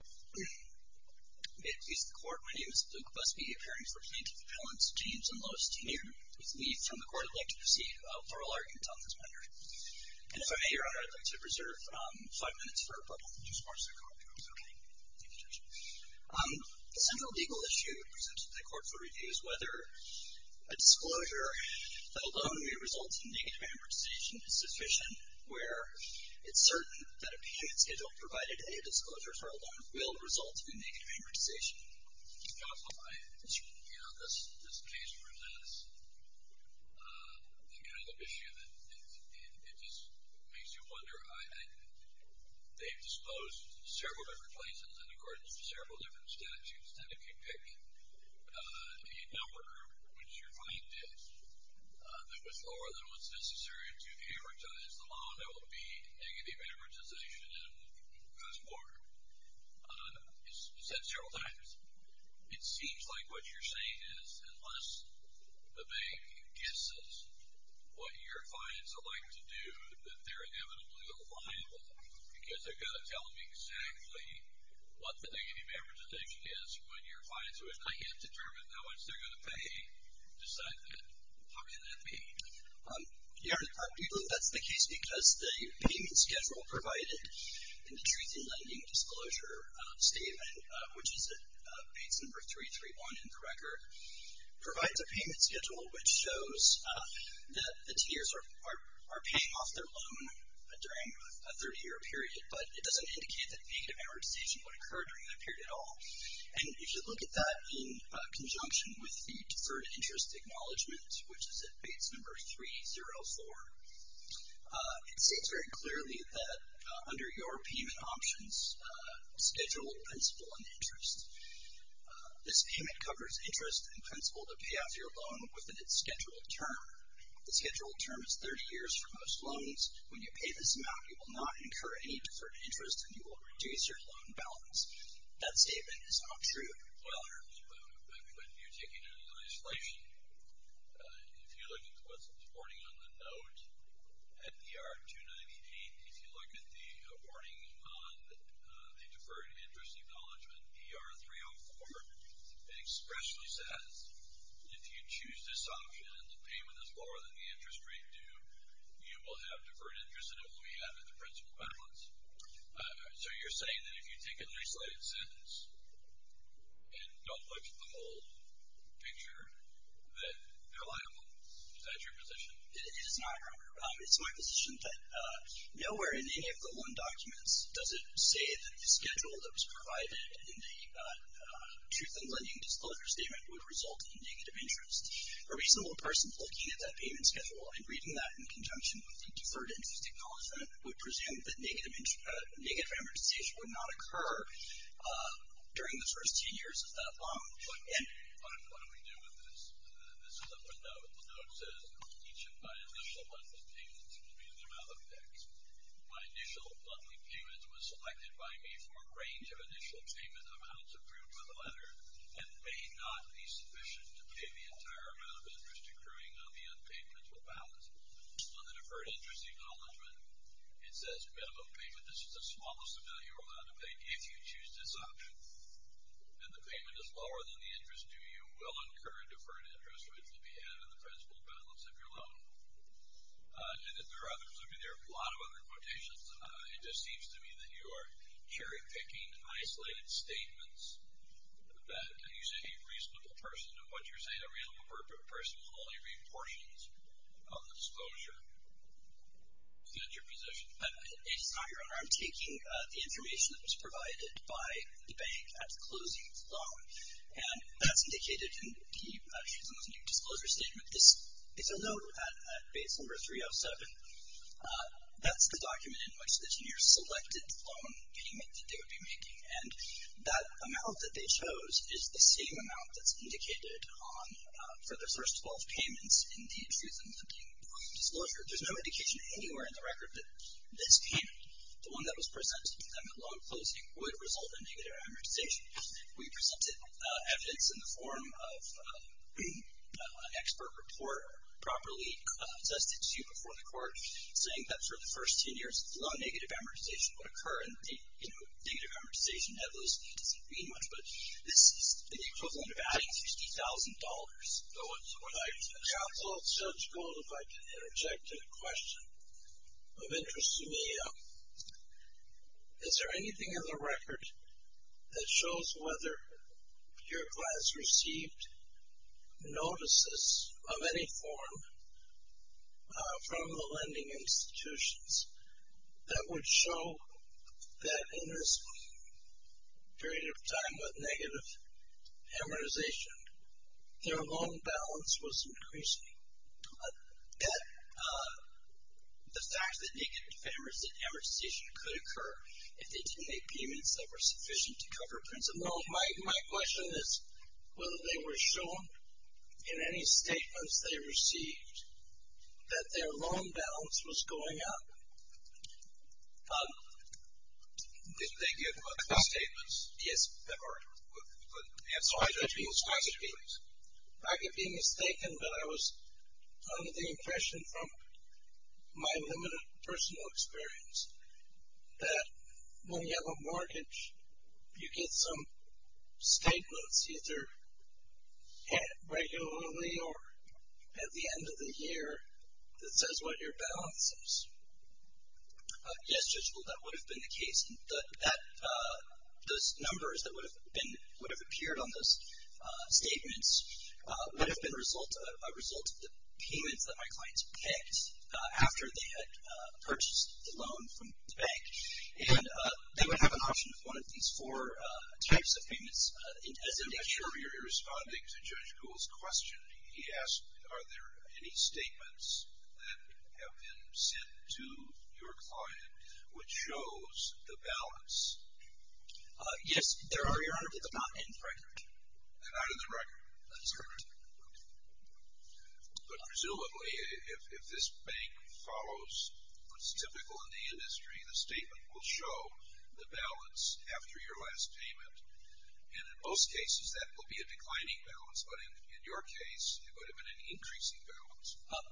May it please the Court, my name is Luke Busby, appearing for plaintiff appellants James and Lois Tennier. With leave from the Court, I'd like to proceed for oral argument on this matter. And if I may, Your Honor, I'd like to reserve five minutes for public discourse. If that's okay. Thank you, Judge. The central legal issue presented to the Court for review is whether a disclosure that alone may result in negative amortization is sufficient, where it's certain that a payment schedule provided to any disclosures alone will result in negative amortization. Counsel, you know, this case presents the kind of issue that it just makes you wonder. They've disposed several different places in accordance with several different statutes. And if you pick a number, which your client is, that was lower than what's necessary to amortize the loan, it will be negative amortization in the first quarter. You've said it several times. It seems like what you're saying is unless the bank guesses what your clients would like to do, that they're inevitably going to file because they've got to tell them exactly what the negative amortization is when your clients who have not yet determined how much they're going to pay decide that. How can that be? Your Honor, that's the case because the payment schedule provided in the Truth in Lending Disclosure Statement, which is at page number 331 in the record, provides a payment schedule which shows that the tiers are paying off their loan during a 30-year period, but it doesn't indicate that negative amortization would occur during that period at all. And if you look at that in conjunction with the Deferred Interest Acknowledgement, which is at page number 304, it states very clearly that under your payment options schedule principle and interest, this payment covers interest in principle to pay off your loan within its scheduled term. The scheduled term is 30 years for most loans. When you pay this amount, you will not incur any deferred interest and you will reduce your loan balance. That statement is not true. Well, Your Honor, when you take it into legislation, if you look at what's reported on the note at ER 298, if you look at the warning on the Deferred Interest Acknowledgement, ER 304, it expressly says if you choose this option and the payment is lower than the interest rate due, you will have deferred interest and it will be added to principal balance. So you're saying that if you take a new slated sentence and don't look at the whole picture that they're liable? It is not, Your Honor. It's my position that nowhere in any of the loan documents does it say that the schedule that was provided in the Truth in Lending Disclosure Statement would result in negative interest. A reasonable person looking at that payment schedule and reading that in conjunction with the Deferred Interest Acknowledgement would presume that negative amortization would not occur during the first 10 years of that loan. What do we do with this? This is another note. The note says each of my initial monthly payments will be the amount of tax. My initial monthly payment was selected by me for a range of initial payment amounts approved by the letter and may not be sufficient to pay the entire amount of interest accruing on the unpaid principal balance. On the Deferred Interest Acknowledgement, it says minimum payment, this is the smallest amount you're allowed to pay if you choose this option, and the payment is lower than the interest due. You will incur a deferred interest, which will be added to the principal balance of your loan. And that there are others. I mean, there are a lot of other quotations. It just seems to me that you are cherry-picking isolated statements, that you say a reasonable person, and what you're saying, a reasonable person only read portions of the disclosure. Is that your position? It's not, Your Honor. I'm taking the information that was provided by the bank at the closing of the loan. And that's indicated in the Truth and Limiting Disclosure Statement. This is a note at base number 307. That's the document in which the junior selected the loan payment that they would be making. And that amount that they chose is the same amount that's indicated on, for the first 12 payments in the Truth and Limiting Disclosure. There's no indication anywhere in the record that this payment, the one that was presented to them at loan closing, would result in negative amortization. We presented evidence in the form of an expert report, properly attested to before the court, saying that for the first 10 years, low negative amortization would occur. And negative amortization, it doesn't mean much, but this is the equivalent of adding $50,000. Counsel, Judge Gould, if I could interject a question of interest to me. Is there anything in the record that shows whether your class received notices of any form from the lending institutions that would show that in this period of time with negative amortization, their loan balance was increasing? That the fact that negative amortization could occur if they didn't make payments that were sufficient to cover principal? No, my question is whether they were shown in any statements they received that their loan balance was going up? Did they give any statements? Yes. I could be mistaken, but I was under the impression from my limited personal experience that when you have a mortgage, you get some statements either regularly or at the end of the year that says what your balance is. Yes, Judge Gould, that would have been the case. Those numbers that would have appeared on those statements would have been a result of the payments that my clients picked after they had purchased the loan from the bank. And they would have an option of one of these four types of payments as indicated. I'm sure you're responding to Judge Gould's question. He asked are there any statements that have been sent to your client which shows the balance? Yes, there are, Your Honor, but they're not in the record. They're not in the record. That's correct. Okay. But presumably, if this bank follows what's typical in the industry, the statement will show the balance after your last payment. And in most cases, that will be a declining balance. But in your case, it would have been an increasing balance.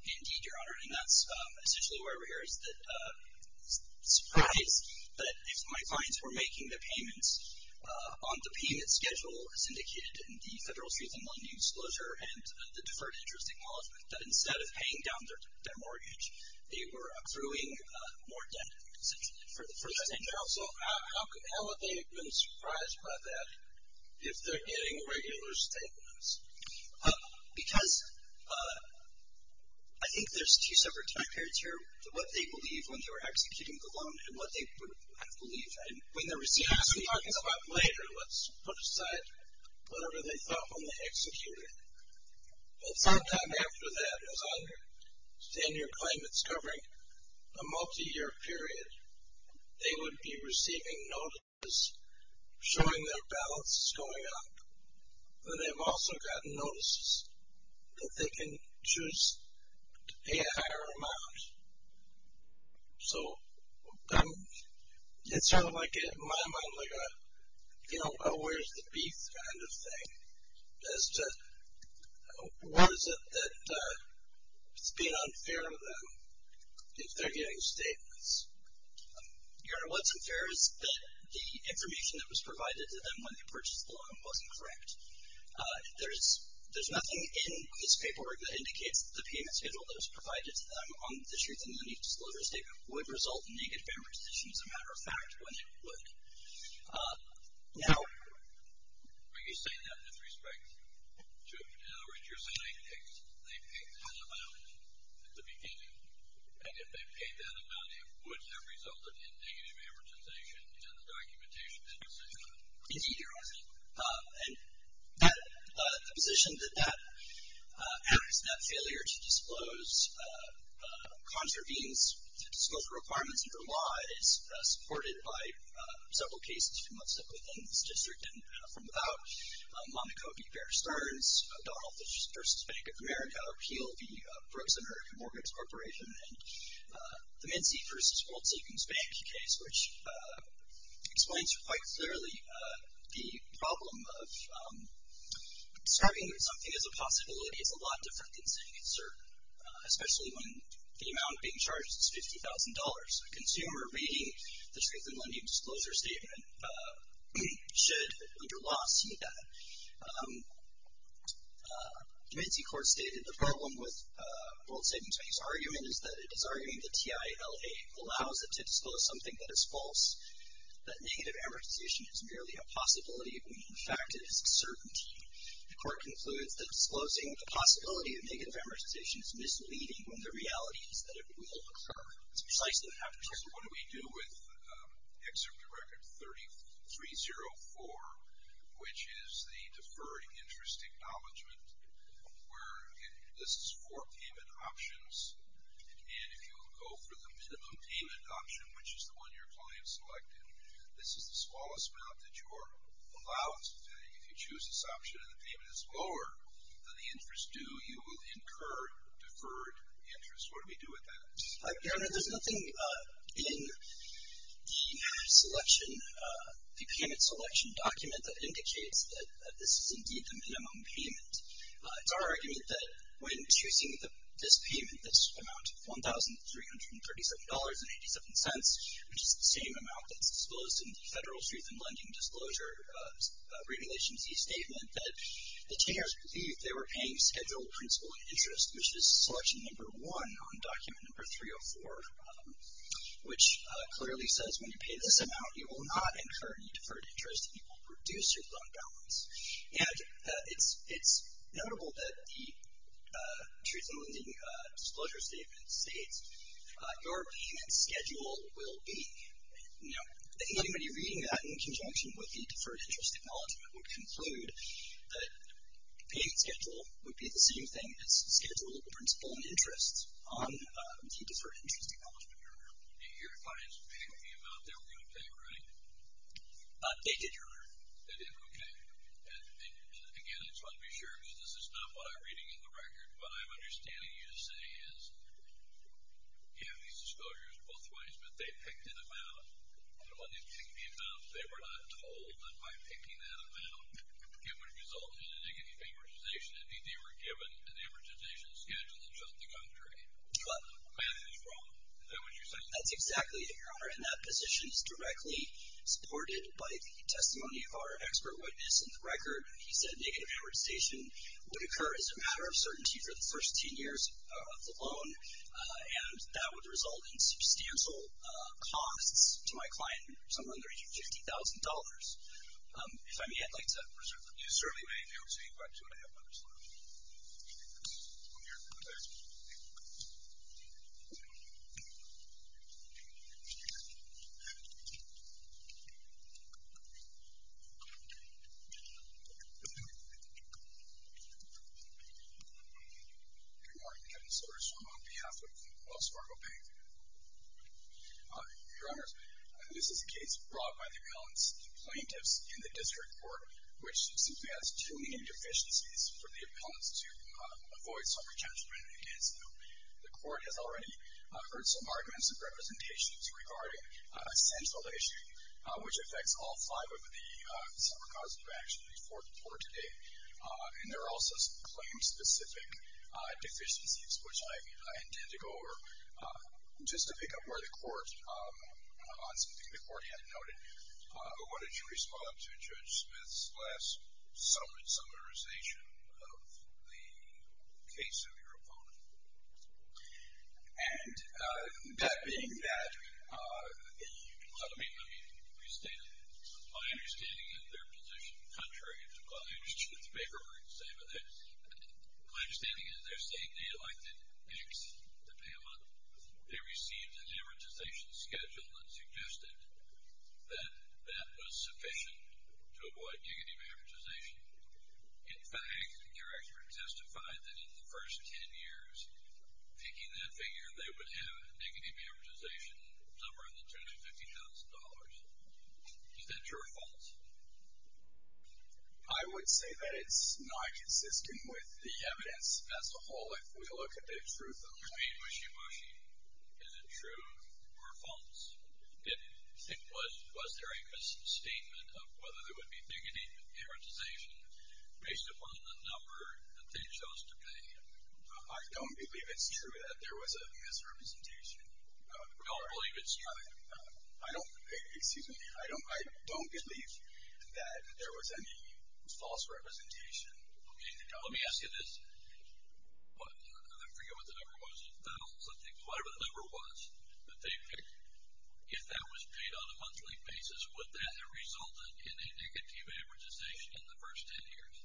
Indeed, Your Honor, and that's essentially why we're here, is the surprise that if my clients were making their payments on the payment schedule, as indicated in the Federal Truth and Lending Disclosure and the Deferred Interest Acknowledgement, that instead of paying down their mortgage, they were accruing more debt, essentially, for the first time. And also, how would they have been surprised by that if they're getting regular statements? Because I think there's two separate factors here, what they believe when they were executing the loan and what they would have believed when they received it. We can talk about that later. Let's put aside whatever they thought when they executed it. Well, sometime after that, as I understand your claim, it's covering a multiyear period. They would be receiving notices showing their balance is going up, but they've also gotten notices that they can choose to pay a higher amount. So it's sort of like, in my mind, like a where's the beef kind of thing, as to what is it that's being unfair to them if they're getting statements. Your Honor, what's unfair is that the information that was provided to them when they purchased the loan wasn't correct. There's nothing in this paperwork that indicates that the payment schedule that was provided to them on the Truth and Lending Disclosure statement would result in negative amortization, as a matter of fact, when it would. Now. Are you saying that with respect to, in other words, you're saying they paid that amount at the beginning, and if they paid that amount it would have resulted in negative amortization in the documentation that you sent out? Indeed, Your Honor. And the position that that acts, that failure to disclose contravenes the disclosure requirements under law is supported by several cases from within this district, and from about Monaco v. Bear Stearns, O'Donnell v. Bank of America, or Peel v. Brooks & Erickson Mortgage Corporation, and the Mincy v. Woldseemans Bank case, which explains quite clearly the problem of describing something as a possibility is a lot different than saying it's certain. Especially when the amount being charged is $50,000. A consumer reading the Truth and Lending Disclosure statement should, under law, see that. Mincy Court stated the problem with Woldseemans Bank's argument is that it is arguing the TILA allows it to disclose something that is false, that negative amortization is merely a possibility when, in fact, it is a certainty. The court concludes that disclosing the possibility of negative amortization is misleading when the reality is that it will occur. It's precisely what happened here. So what do we do with Excerpt to Record 3304, which is the deferred interest acknowledgment, where this is four payment options, and if you go for the minimum payment option, which is the one your client selected, this is the smallest amount that you're allowed to do. If you choose this option and the payment is lower than the interest due, you will incur deferred interest. What do we do with that? There's nothing in the selection, the payment selection document, that indicates that this is indeed the minimum payment. It's our argument that when choosing this payment, this amount of $1,337.87, which is the same amount that's disclosed in the Federal Truth in Lending Disclosure Regulation Z Statement, that the Chairs believed they were paying scheduled principal interest, which is selection number one on document number 304, which clearly says when you pay this amount, you will not incur any deferred interest and you will reduce your loan balance. And it's notable that the Truth in Lending Disclosure Statement states, your payment schedule will be. I think anybody reading that in conjunction with the deferred interest acknowledgement would conclude that the payment schedule would be the same thing as the schedule of the principal interest on the deferred interest acknowledgement. Your clients picked the amount they were going to pay, right? They did, Your Honor. They did, okay. And again, I just want to be sure, because this is not what I'm reading in the record. What I'm understanding you to say is you have these disclosures both ways, but they picked an amount, and when they picked the amount, they were not told that by picking that amount, it would result in a negative amortization. Indeed, they were given an amortization schedule throughout the country. But Matt is wrong. Is that what you're saying? That's exactly it, Your Honor, and that position is directly supported by the testimony of our expert witness in the record. He said negative amortization would occur as a matter of certainty for the first 10 years of the loan, and that would result in substantial costs to my client, somewhere in the region of $50,000. If I may, I'd like to reserve that. You certainly may, if you have two and a half minutes left. Go ahead. Good morning. Kevin Soters on behalf of Wells Fargo Bank. Your Honor, this is a case brought by the appellant's plaintiffs in the district court, which simply has too many deficiencies for the appellant to avoid some re-counselment against them. The court has already heard some arguments and representations regarding a central issue, which affects all five of the separate causes of action before today. And there are also some claim-specific deficiencies, which I intend to go over. Just to pick up where the court, on something the court had noted, what did you respond to Judge Smith's last summarization of the case of your opponent? And that being that, let me restate it. My understanding is their position, contrary to what the paper would say, but my understanding is they're saying they'd like to exit the payment. They received an amortization schedule that suggested that that was sufficient to avoid negative amortization. In fact, your expert testified that in the first 10 years, picking that figure, they would have a negative amortization somewhere in the $250,000. Is that true or false? I would say that it's not consistent with the evidence as a whole, if we look at the truth of the claim. Is it true or false? Was there a misstatement of whether there would be dignity amortization based upon the number that they chose to pay? I don't believe it's true that there was a misrepresentation. You don't believe it's true? Excuse me. I don't believe that there was any false representation. Okay. Let me ask you this. I forget what the number was. Whatever the number was that they picked, if that was paid on a monthly basis, would that have resulted in a negative amortization in the first 10 years?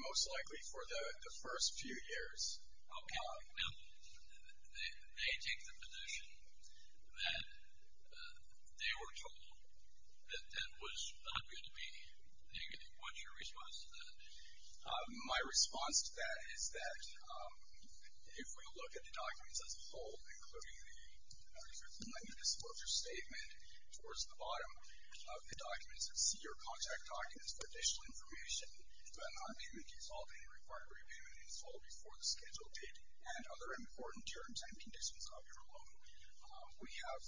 Most likely for the first few years. Okay. Now, they take the position that they were told that that was not going to be negative. What's your response to that? My response to that is that if we look at the documents as a whole, including the recruitment and disclosure statement, towards the bottom of the documents, it's your contact documents for additional information, do I not have payment default, any required repayment, install before the scheduled date, and other important terms and conditions of your loan. We have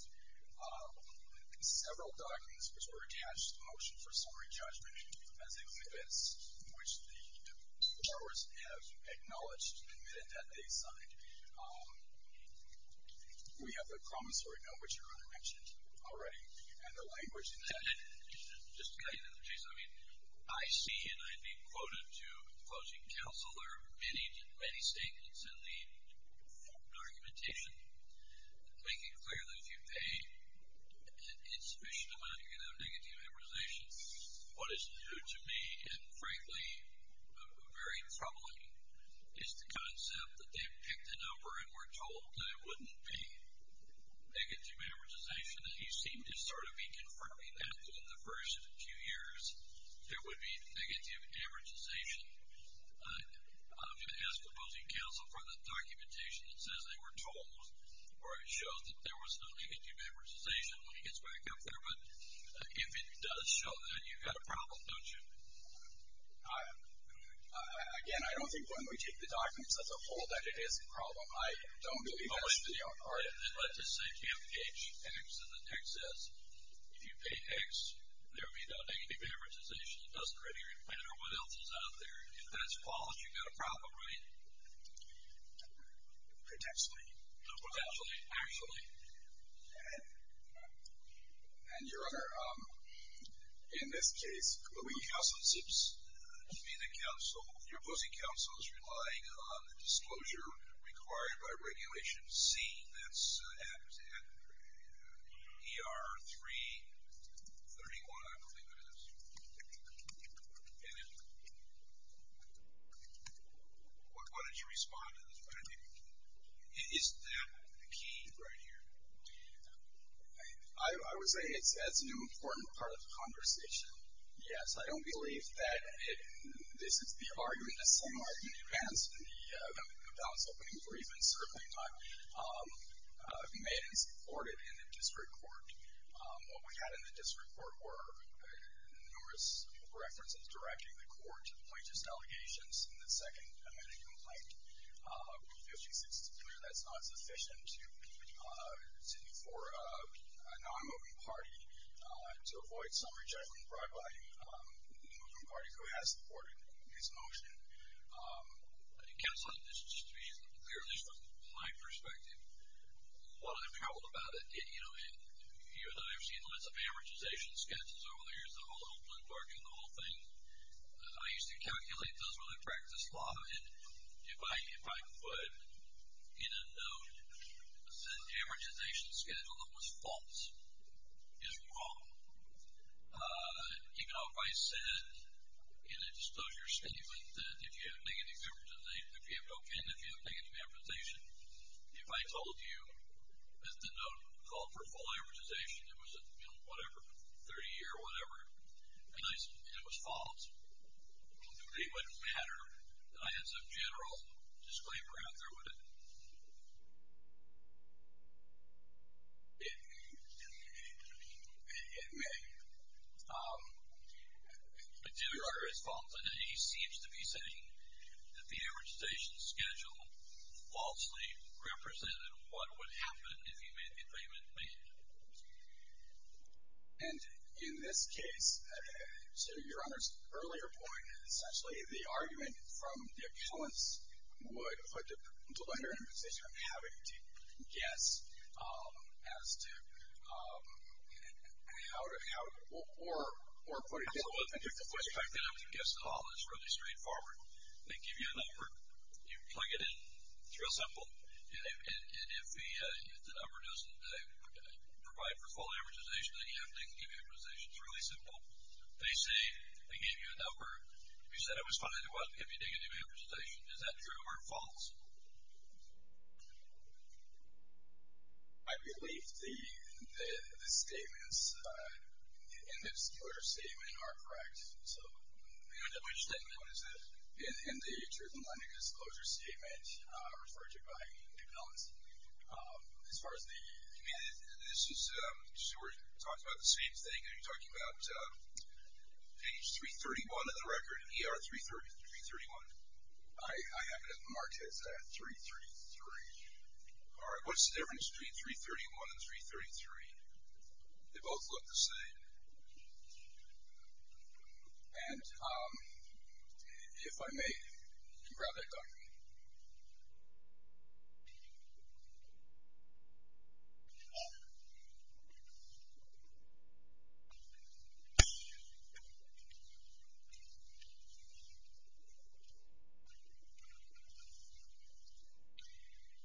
several documents which were attached to the Motion for Summary Judgment as exhibits which the borrowers have acknowledged, admitted that they signed. We have the promissory note, which your Honor mentioned already, and the language in that. Just to cut you in, Jason, I mean, I see, and I've been quoted to the closing counsel, are many statements in the documentation making it clear that if you pay an insufficient amount, you're going to have negative amortization. What is new to me, and frankly, very troubling, is the concept that they picked a number and were told that it wouldn't be negative amortization, and you seem to sort of be confirming that in the first few years, there would be negative amortization. I'm going to ask the closing counsel for the documentation that says they were told or it shows that there was no negative amortization when he gets back up there, but if it does show that, you've got a problem, don't you? Again, I don't think when we take the documents, that's a whole that it is a problem. I don't believe that. Let's just say you have page X and then X says, if you pay X, there will be no negative amortization. It doesn't really matter what else is out there. If that's false, you've got a problem, right? Potentially. Potentially. Actually. And your Honor, in this case, the closing counsel seems to be the counsel, your opposing counsel is relying on the disclosure required by regulation C that's at ER 331, I believe it is. And if, what did you respond to? Is that the key right here? I would say that's an important part of the conversation. Yes, I don't believe that this is the argument, the same argument as the balance opening brief, and certainly not made and supported in the district court. What we had in the district court were numerous references directing the district court to a non-moving party, to avoid some rejection brought by a moving party who has supported this motion. Counselor, just to be clear, at least from my perspective, what I'm troubled about, you know, even though I've seen lots of amortization sketches over the years, the whole open parking, the whole thing, I used to calculate those when I practiced law. And if I put in a note the amortization schedule that was false, it's wrong. Even though if I said in a disclosure statement that if you have negative amortization, if you have no pen, if you have negative amortization, if I told you that the note called for full amortization, it was, you know, whatever, 30 year, whatever, and it was false, it wouldn't matter. I had some general disclaimer out there, wouldn't it? It may. But your Honor, as false as any, he seems to be saying that the amortization schedule falsely represented what would happen if he made the agreement made. And in this case, to your Honor's earlier point, essentially the argument from the appellants would put the lender in a position of having to guess as to how, or put it in a way. I think the question. It's really straightforward. They give you a number. You plug it in. It's real simple. And if the number doesn't provide for full amortization, then you have negative amortization. It's really simple. They say they gave you a number. You said it was funny. It wasn't giving you negative amortization. Is that true or false? I believe the statements in the disclosure statement are correct. So. Which statement is it? In the Truth in Lending Disclosure Statement referred to by the appellants. As far as the. This is. We're talking about the same thing. Are you talking about page 331 of the record? ER 331. I have it marked as that. 333. All right. What's the difference between 331 and 333? They both look the same. And. If I may grab that. Oh.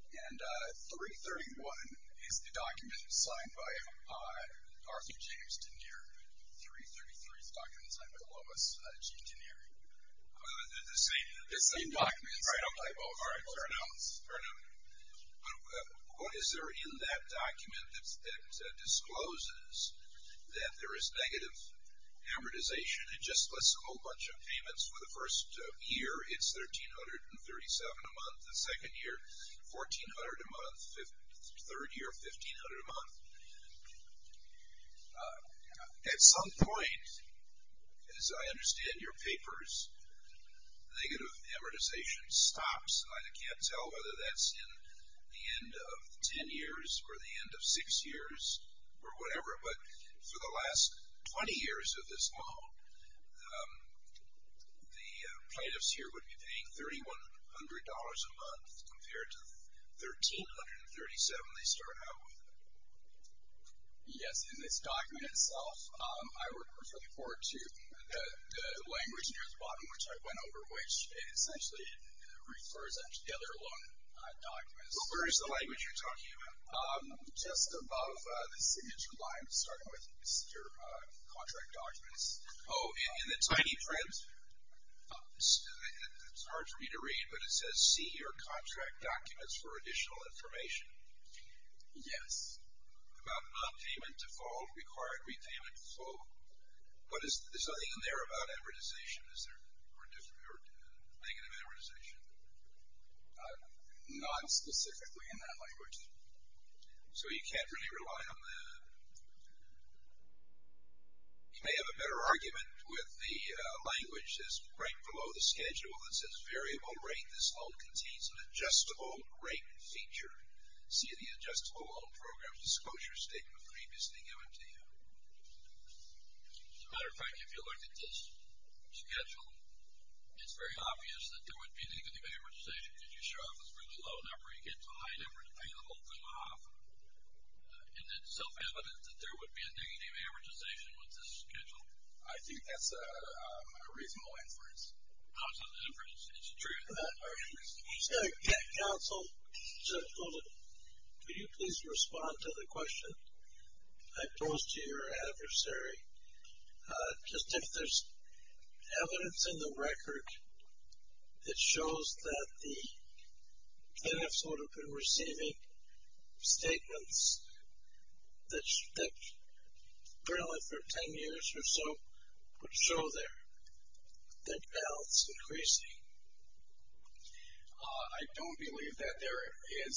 And 331 is the document signed by Arthur James DeNere. 333 is the document signed by Lois Jean DeNere. They're the same. It's the same document. All right. Fair enough. Fair enough. But what is there in that document that discloses that there is negative amortization? It just lists a whole bunch of payments for the first year. It's $1,337 a month. The second year, $1,400 a month. Third year, $1,500 a month. At some point, as I understand your papers, negative amortization stops. And I can't tell whether that's in the end of ten years or the end of six years or whatever. But for the last 20 years of this loan, the plaintiffs here would be paying $3,100 a month compared to $1,337 they start out with. Yes. In this document itself, I refer you forward to the language near the bottom, which I went over, which essentially refers to the other loan documents. Where is the language you're talking about? Just above the signature line, starting with your contract documents. Oh, in the tiny print? It's hard for me to read, but it says, See your contract documents for additional information. Yes. About nonpayment default, required repayment default. But there's nothing in there about amortization, is there? Or negative amortization? Not specifically in that language. So you can't really rely on that? You may have a better argument with the language that's right below the schedule. It says variable rate. This loan contains an adjustable rate feature. See the adjustable loan program disclosure statement previously given to you. As a matter of fact, if you look at this schedule, it's very obvious that there would be negative amortization because your show-off is really low, not where you get to a high number to pay the whole thing off. Isn't it self-evident that there would be a negative amortization with this schedule? I think that's a reasonable inference. How is that an inference? Is it true? Counsel, could you please respond to the question I posed to your adversary? Just if there's evidence in the record that shows that the NFs would have been receiving statements that really for 10 years or so would show their balance increasing. I don't believe that there is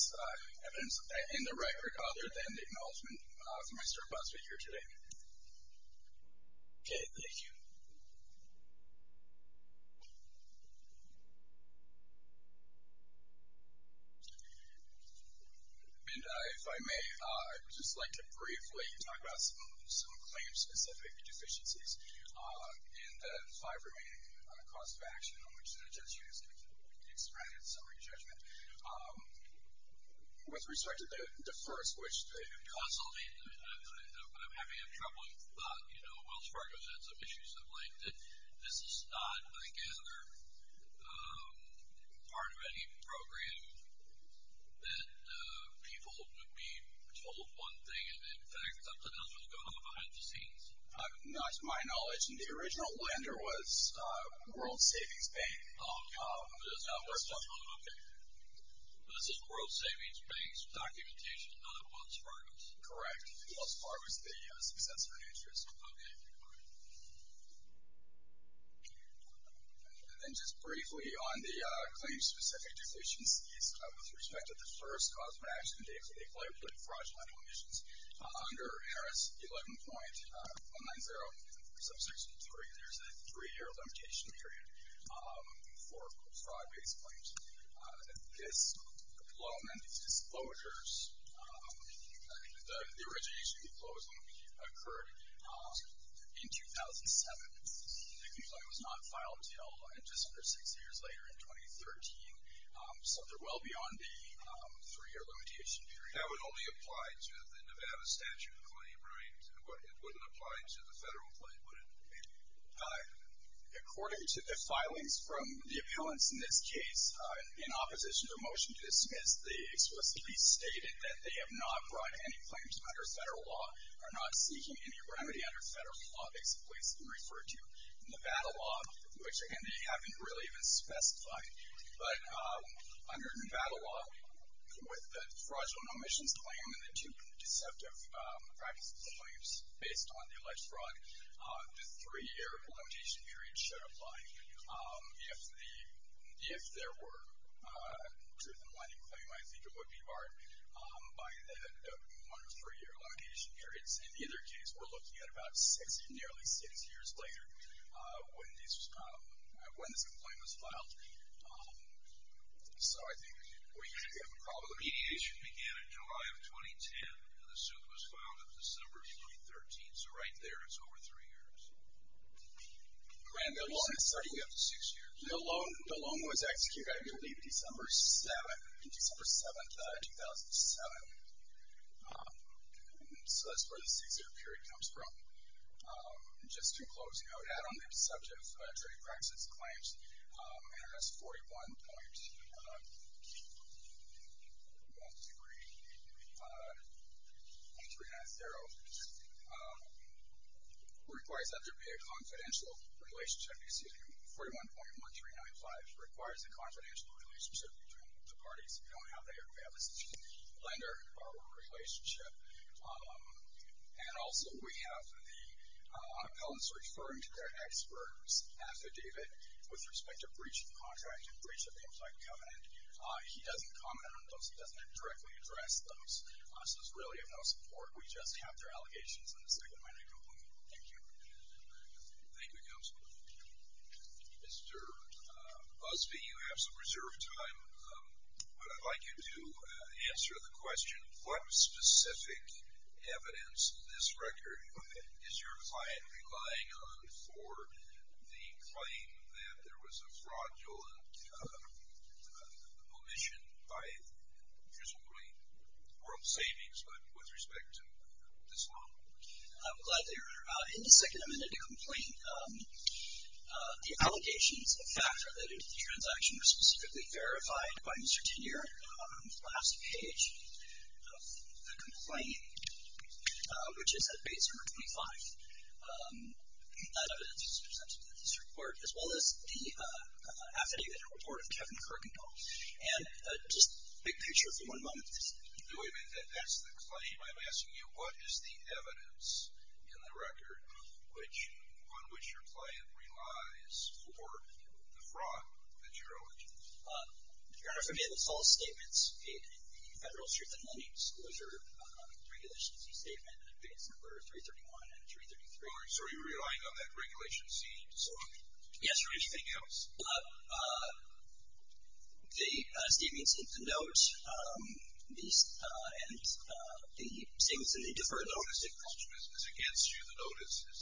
evidence of that in the record other than the acknowledgment from my staff last week or today. Okay, thank you. And if I may, I would just like to briefly talk about some claims-specific deficiencies in the five remaining costs of action on which the judiciary is going to be expressed in summary judgment. With respect to the first, which I'm having a troubling thought. You know, Wells Fargo has had some issues of late. This is not, I gather, part of any program that people would be told one thing, and in fact, something else was going on behind the scenes. To my knowledge, the original lender was World Savings Bank. Okay. This is World Savings Bank's documentation, not of Wells Fargo's. Correct. Wells Fargo is the successor to interest. Okay. And then just briefly on the claims-specific deficiencies, with respect to the first cost of action, they include fraudulent omissions. Under Harris 11.190, subsection 3, there's a three-year limitation period for fraud-based claims. This loan and these disclosures, the origination of the clause only occurred in 2007. The complaint was not filed until just under six years later in 2013. So they're well beyond the three-year limitation period. That would only apply to the Nevada statute claim, right? It wouldn't apply to the federal claim, would it? According to the filings from the appealants in this case, in opposition to a motion to dismiss, they explicitly stated that they have not brought any claims under federal law, are not seeking any remedy under federal law. These complaints have been referred to Nevada law, which, again, they haven't really even specified. But under Nevada law, with the fraudulent omissions claim and the two deceptive practices claims based on the alleged fraud, the three-year limitation period should apply. If there were a truth-in-the-minding claim, I think it would be barred by the one or three-year limitation periods. In the other case, we're looking at about six, nearly six years later when this complaint was filed. So I think we have a problem. Mediation began in July of 2010, and the suit was filed in December of 2013. So right there is over three years. And the loan is starting after six years. The loan was executed, I believe, December 7th, 2007. So that's where the six-year period comes from. Just to close, I would add on the deceptive trading practices claims, and that's 41.1390. It requires that there be a confidential relationship. Excuse me. 41.1395 requires a confidential relationship between the parties. We don't have that here. We have this lender-borrower relationship. And also we have the appellants referring to their ex-birds affidavit with respect to breach of contract and breach of the inside covenant. He doesn't comment on those. He doesn't directly address those. So it's really of no support. We just have their allegations in the second minor complaint. Thank you. Thank you, Counselor. Mr. Busby, you have some reserved time, but I'd like you to answer the question. What specific evidence in this record is your client relying on for the claim that there was a fraudulent omission by, presumably, World Savings, but with respect to this loan? I'm glad that you're here. In the second amended complaint, the allegations factor that the transaction was specifically verified by Mr. Tenier on the last page of the complaint, which is at page 125, that evidence is presented in this report, as well as the affidavit and report of Kevin Kirkendall. And just a big picture for one moment. Do I make that that's the claim? I'm asking you what is the evidence in the record on which your client relies for the fraud that you're alleging? Your Honor, if I may, the false statements in the Federal Truth in Lending Disclosure, the Regulation C statement, and I think it's number 331 and 333. So are you relying on that Regulation C disclosure? Yes, Your Honor. Anything else? The statements in the note and the statements in the deferred note. The notice is against you. The notice is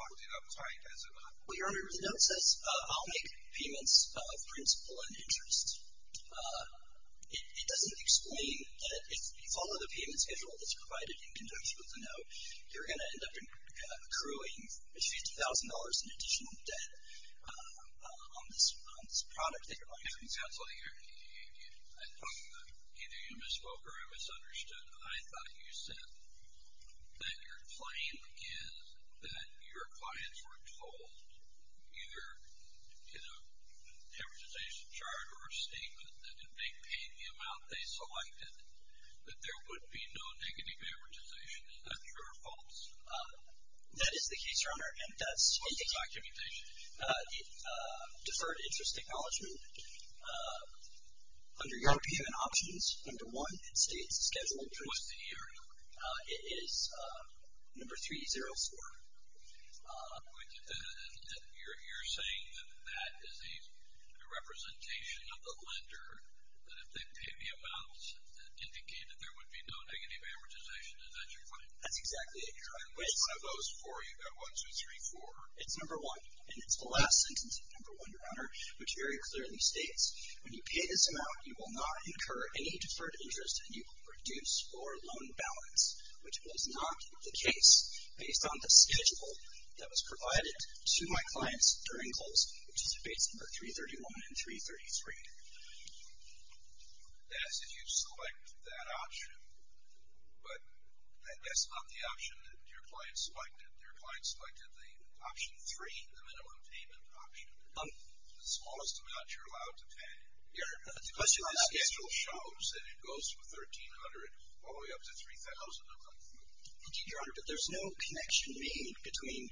locked in uptight as it was. Well, Your Honor, the note says, I'll make payments of principal and interest. It doesn't explain that if you follow the payments schedule that's provided in conjunction with the note, you're going to end up accruing $50,000 in additional debt on this product that you're arguing. Counsel, either you misspoke or I misunderstood. I thought you said that your claim is that your clients were told, either in a amortization chart or a statement, that if they paid the amount they selected, that there would be no negative amortization. Is that true or false? That is the case, Your Honor. And that's in the documentation. The deferred interest acknowledgement, under your opinion and options, number one, it states the scheduled interest. What's the year? It is number 304. You're saying that that is a representation of the lender, that if they paid the amount, it indicated there would be no negative amortization, and that's your claim? That's exactly it, Your Honor. And which one of those four? You've got one, two, three, four. It's number one. And it's the last sentence of number one, Your Honor, which very clearly states, when you pay this amount, you will not incur any deferred interest, and you will reduce your loan balance, which was not the case based on the schedule that was provided to my clients during close, which is debates number 331 and 333. That's if you select that option. But that's not the option that your client selected. Your client selected the option three, the minimum payment option. The smallest amount you're allowed to pay. Your Honor, the question on schedule shows that it goes from $1,300 all the way up to $3,000. Indeed, Your Honor, but there's no connection made between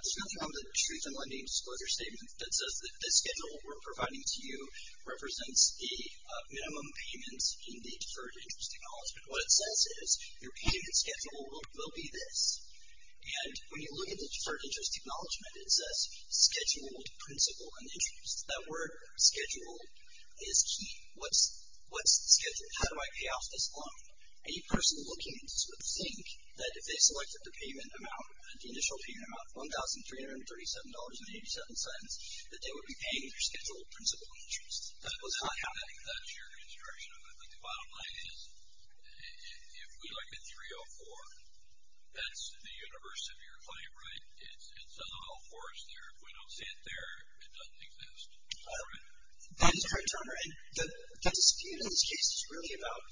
the truth and lending disclosure statement that says that the schedule we're providing to you represents the minimum payments in the deferred interest acknowledgement. What it says is your payment schedule will be this. And when you look at the deferred interest acknowledgement, it says scheduled principal and interest. That word, scheduled, is key. What's the schedule? How do I pay off this loan? Any person looking at this would think that if they selected the payment amount, the initial payment amount, $1,337.87, that they would be paying their scheduled principal and interest. That was not happening. That's your construction of it. But the bottom line is, if we look at 304, that's the universe of your claim, right? It's a little horse there. If we don't see it there, it doesn't exist. Is that correct? That is correct, Your Honor. And the dispute in this case is really about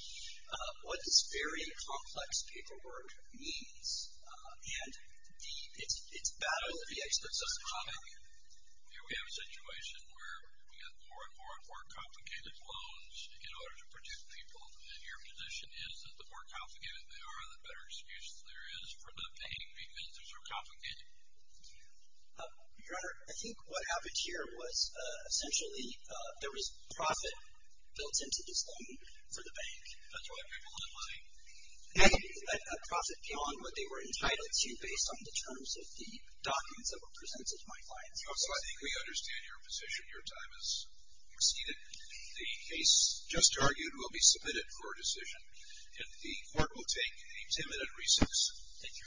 what this very complex paperwork means. And it's battle of the experts. Here we have a situation where we have more and more and more complicated loans in order to produce people. And your position is that the more complicated they are, the better excuse there is for not paying because they're so complicated? Your Honor, I think what happened here was, essentially, there was profit built into this loan for the bank. That's why people had money. And that profit came on what they were entitled to, based on the terms of the documents that were presented to my clients. So I think we understand your position. Your time has exceeded. The case just argued will be submitted for a decision. And the court will take a ten-minute recess. Thank you.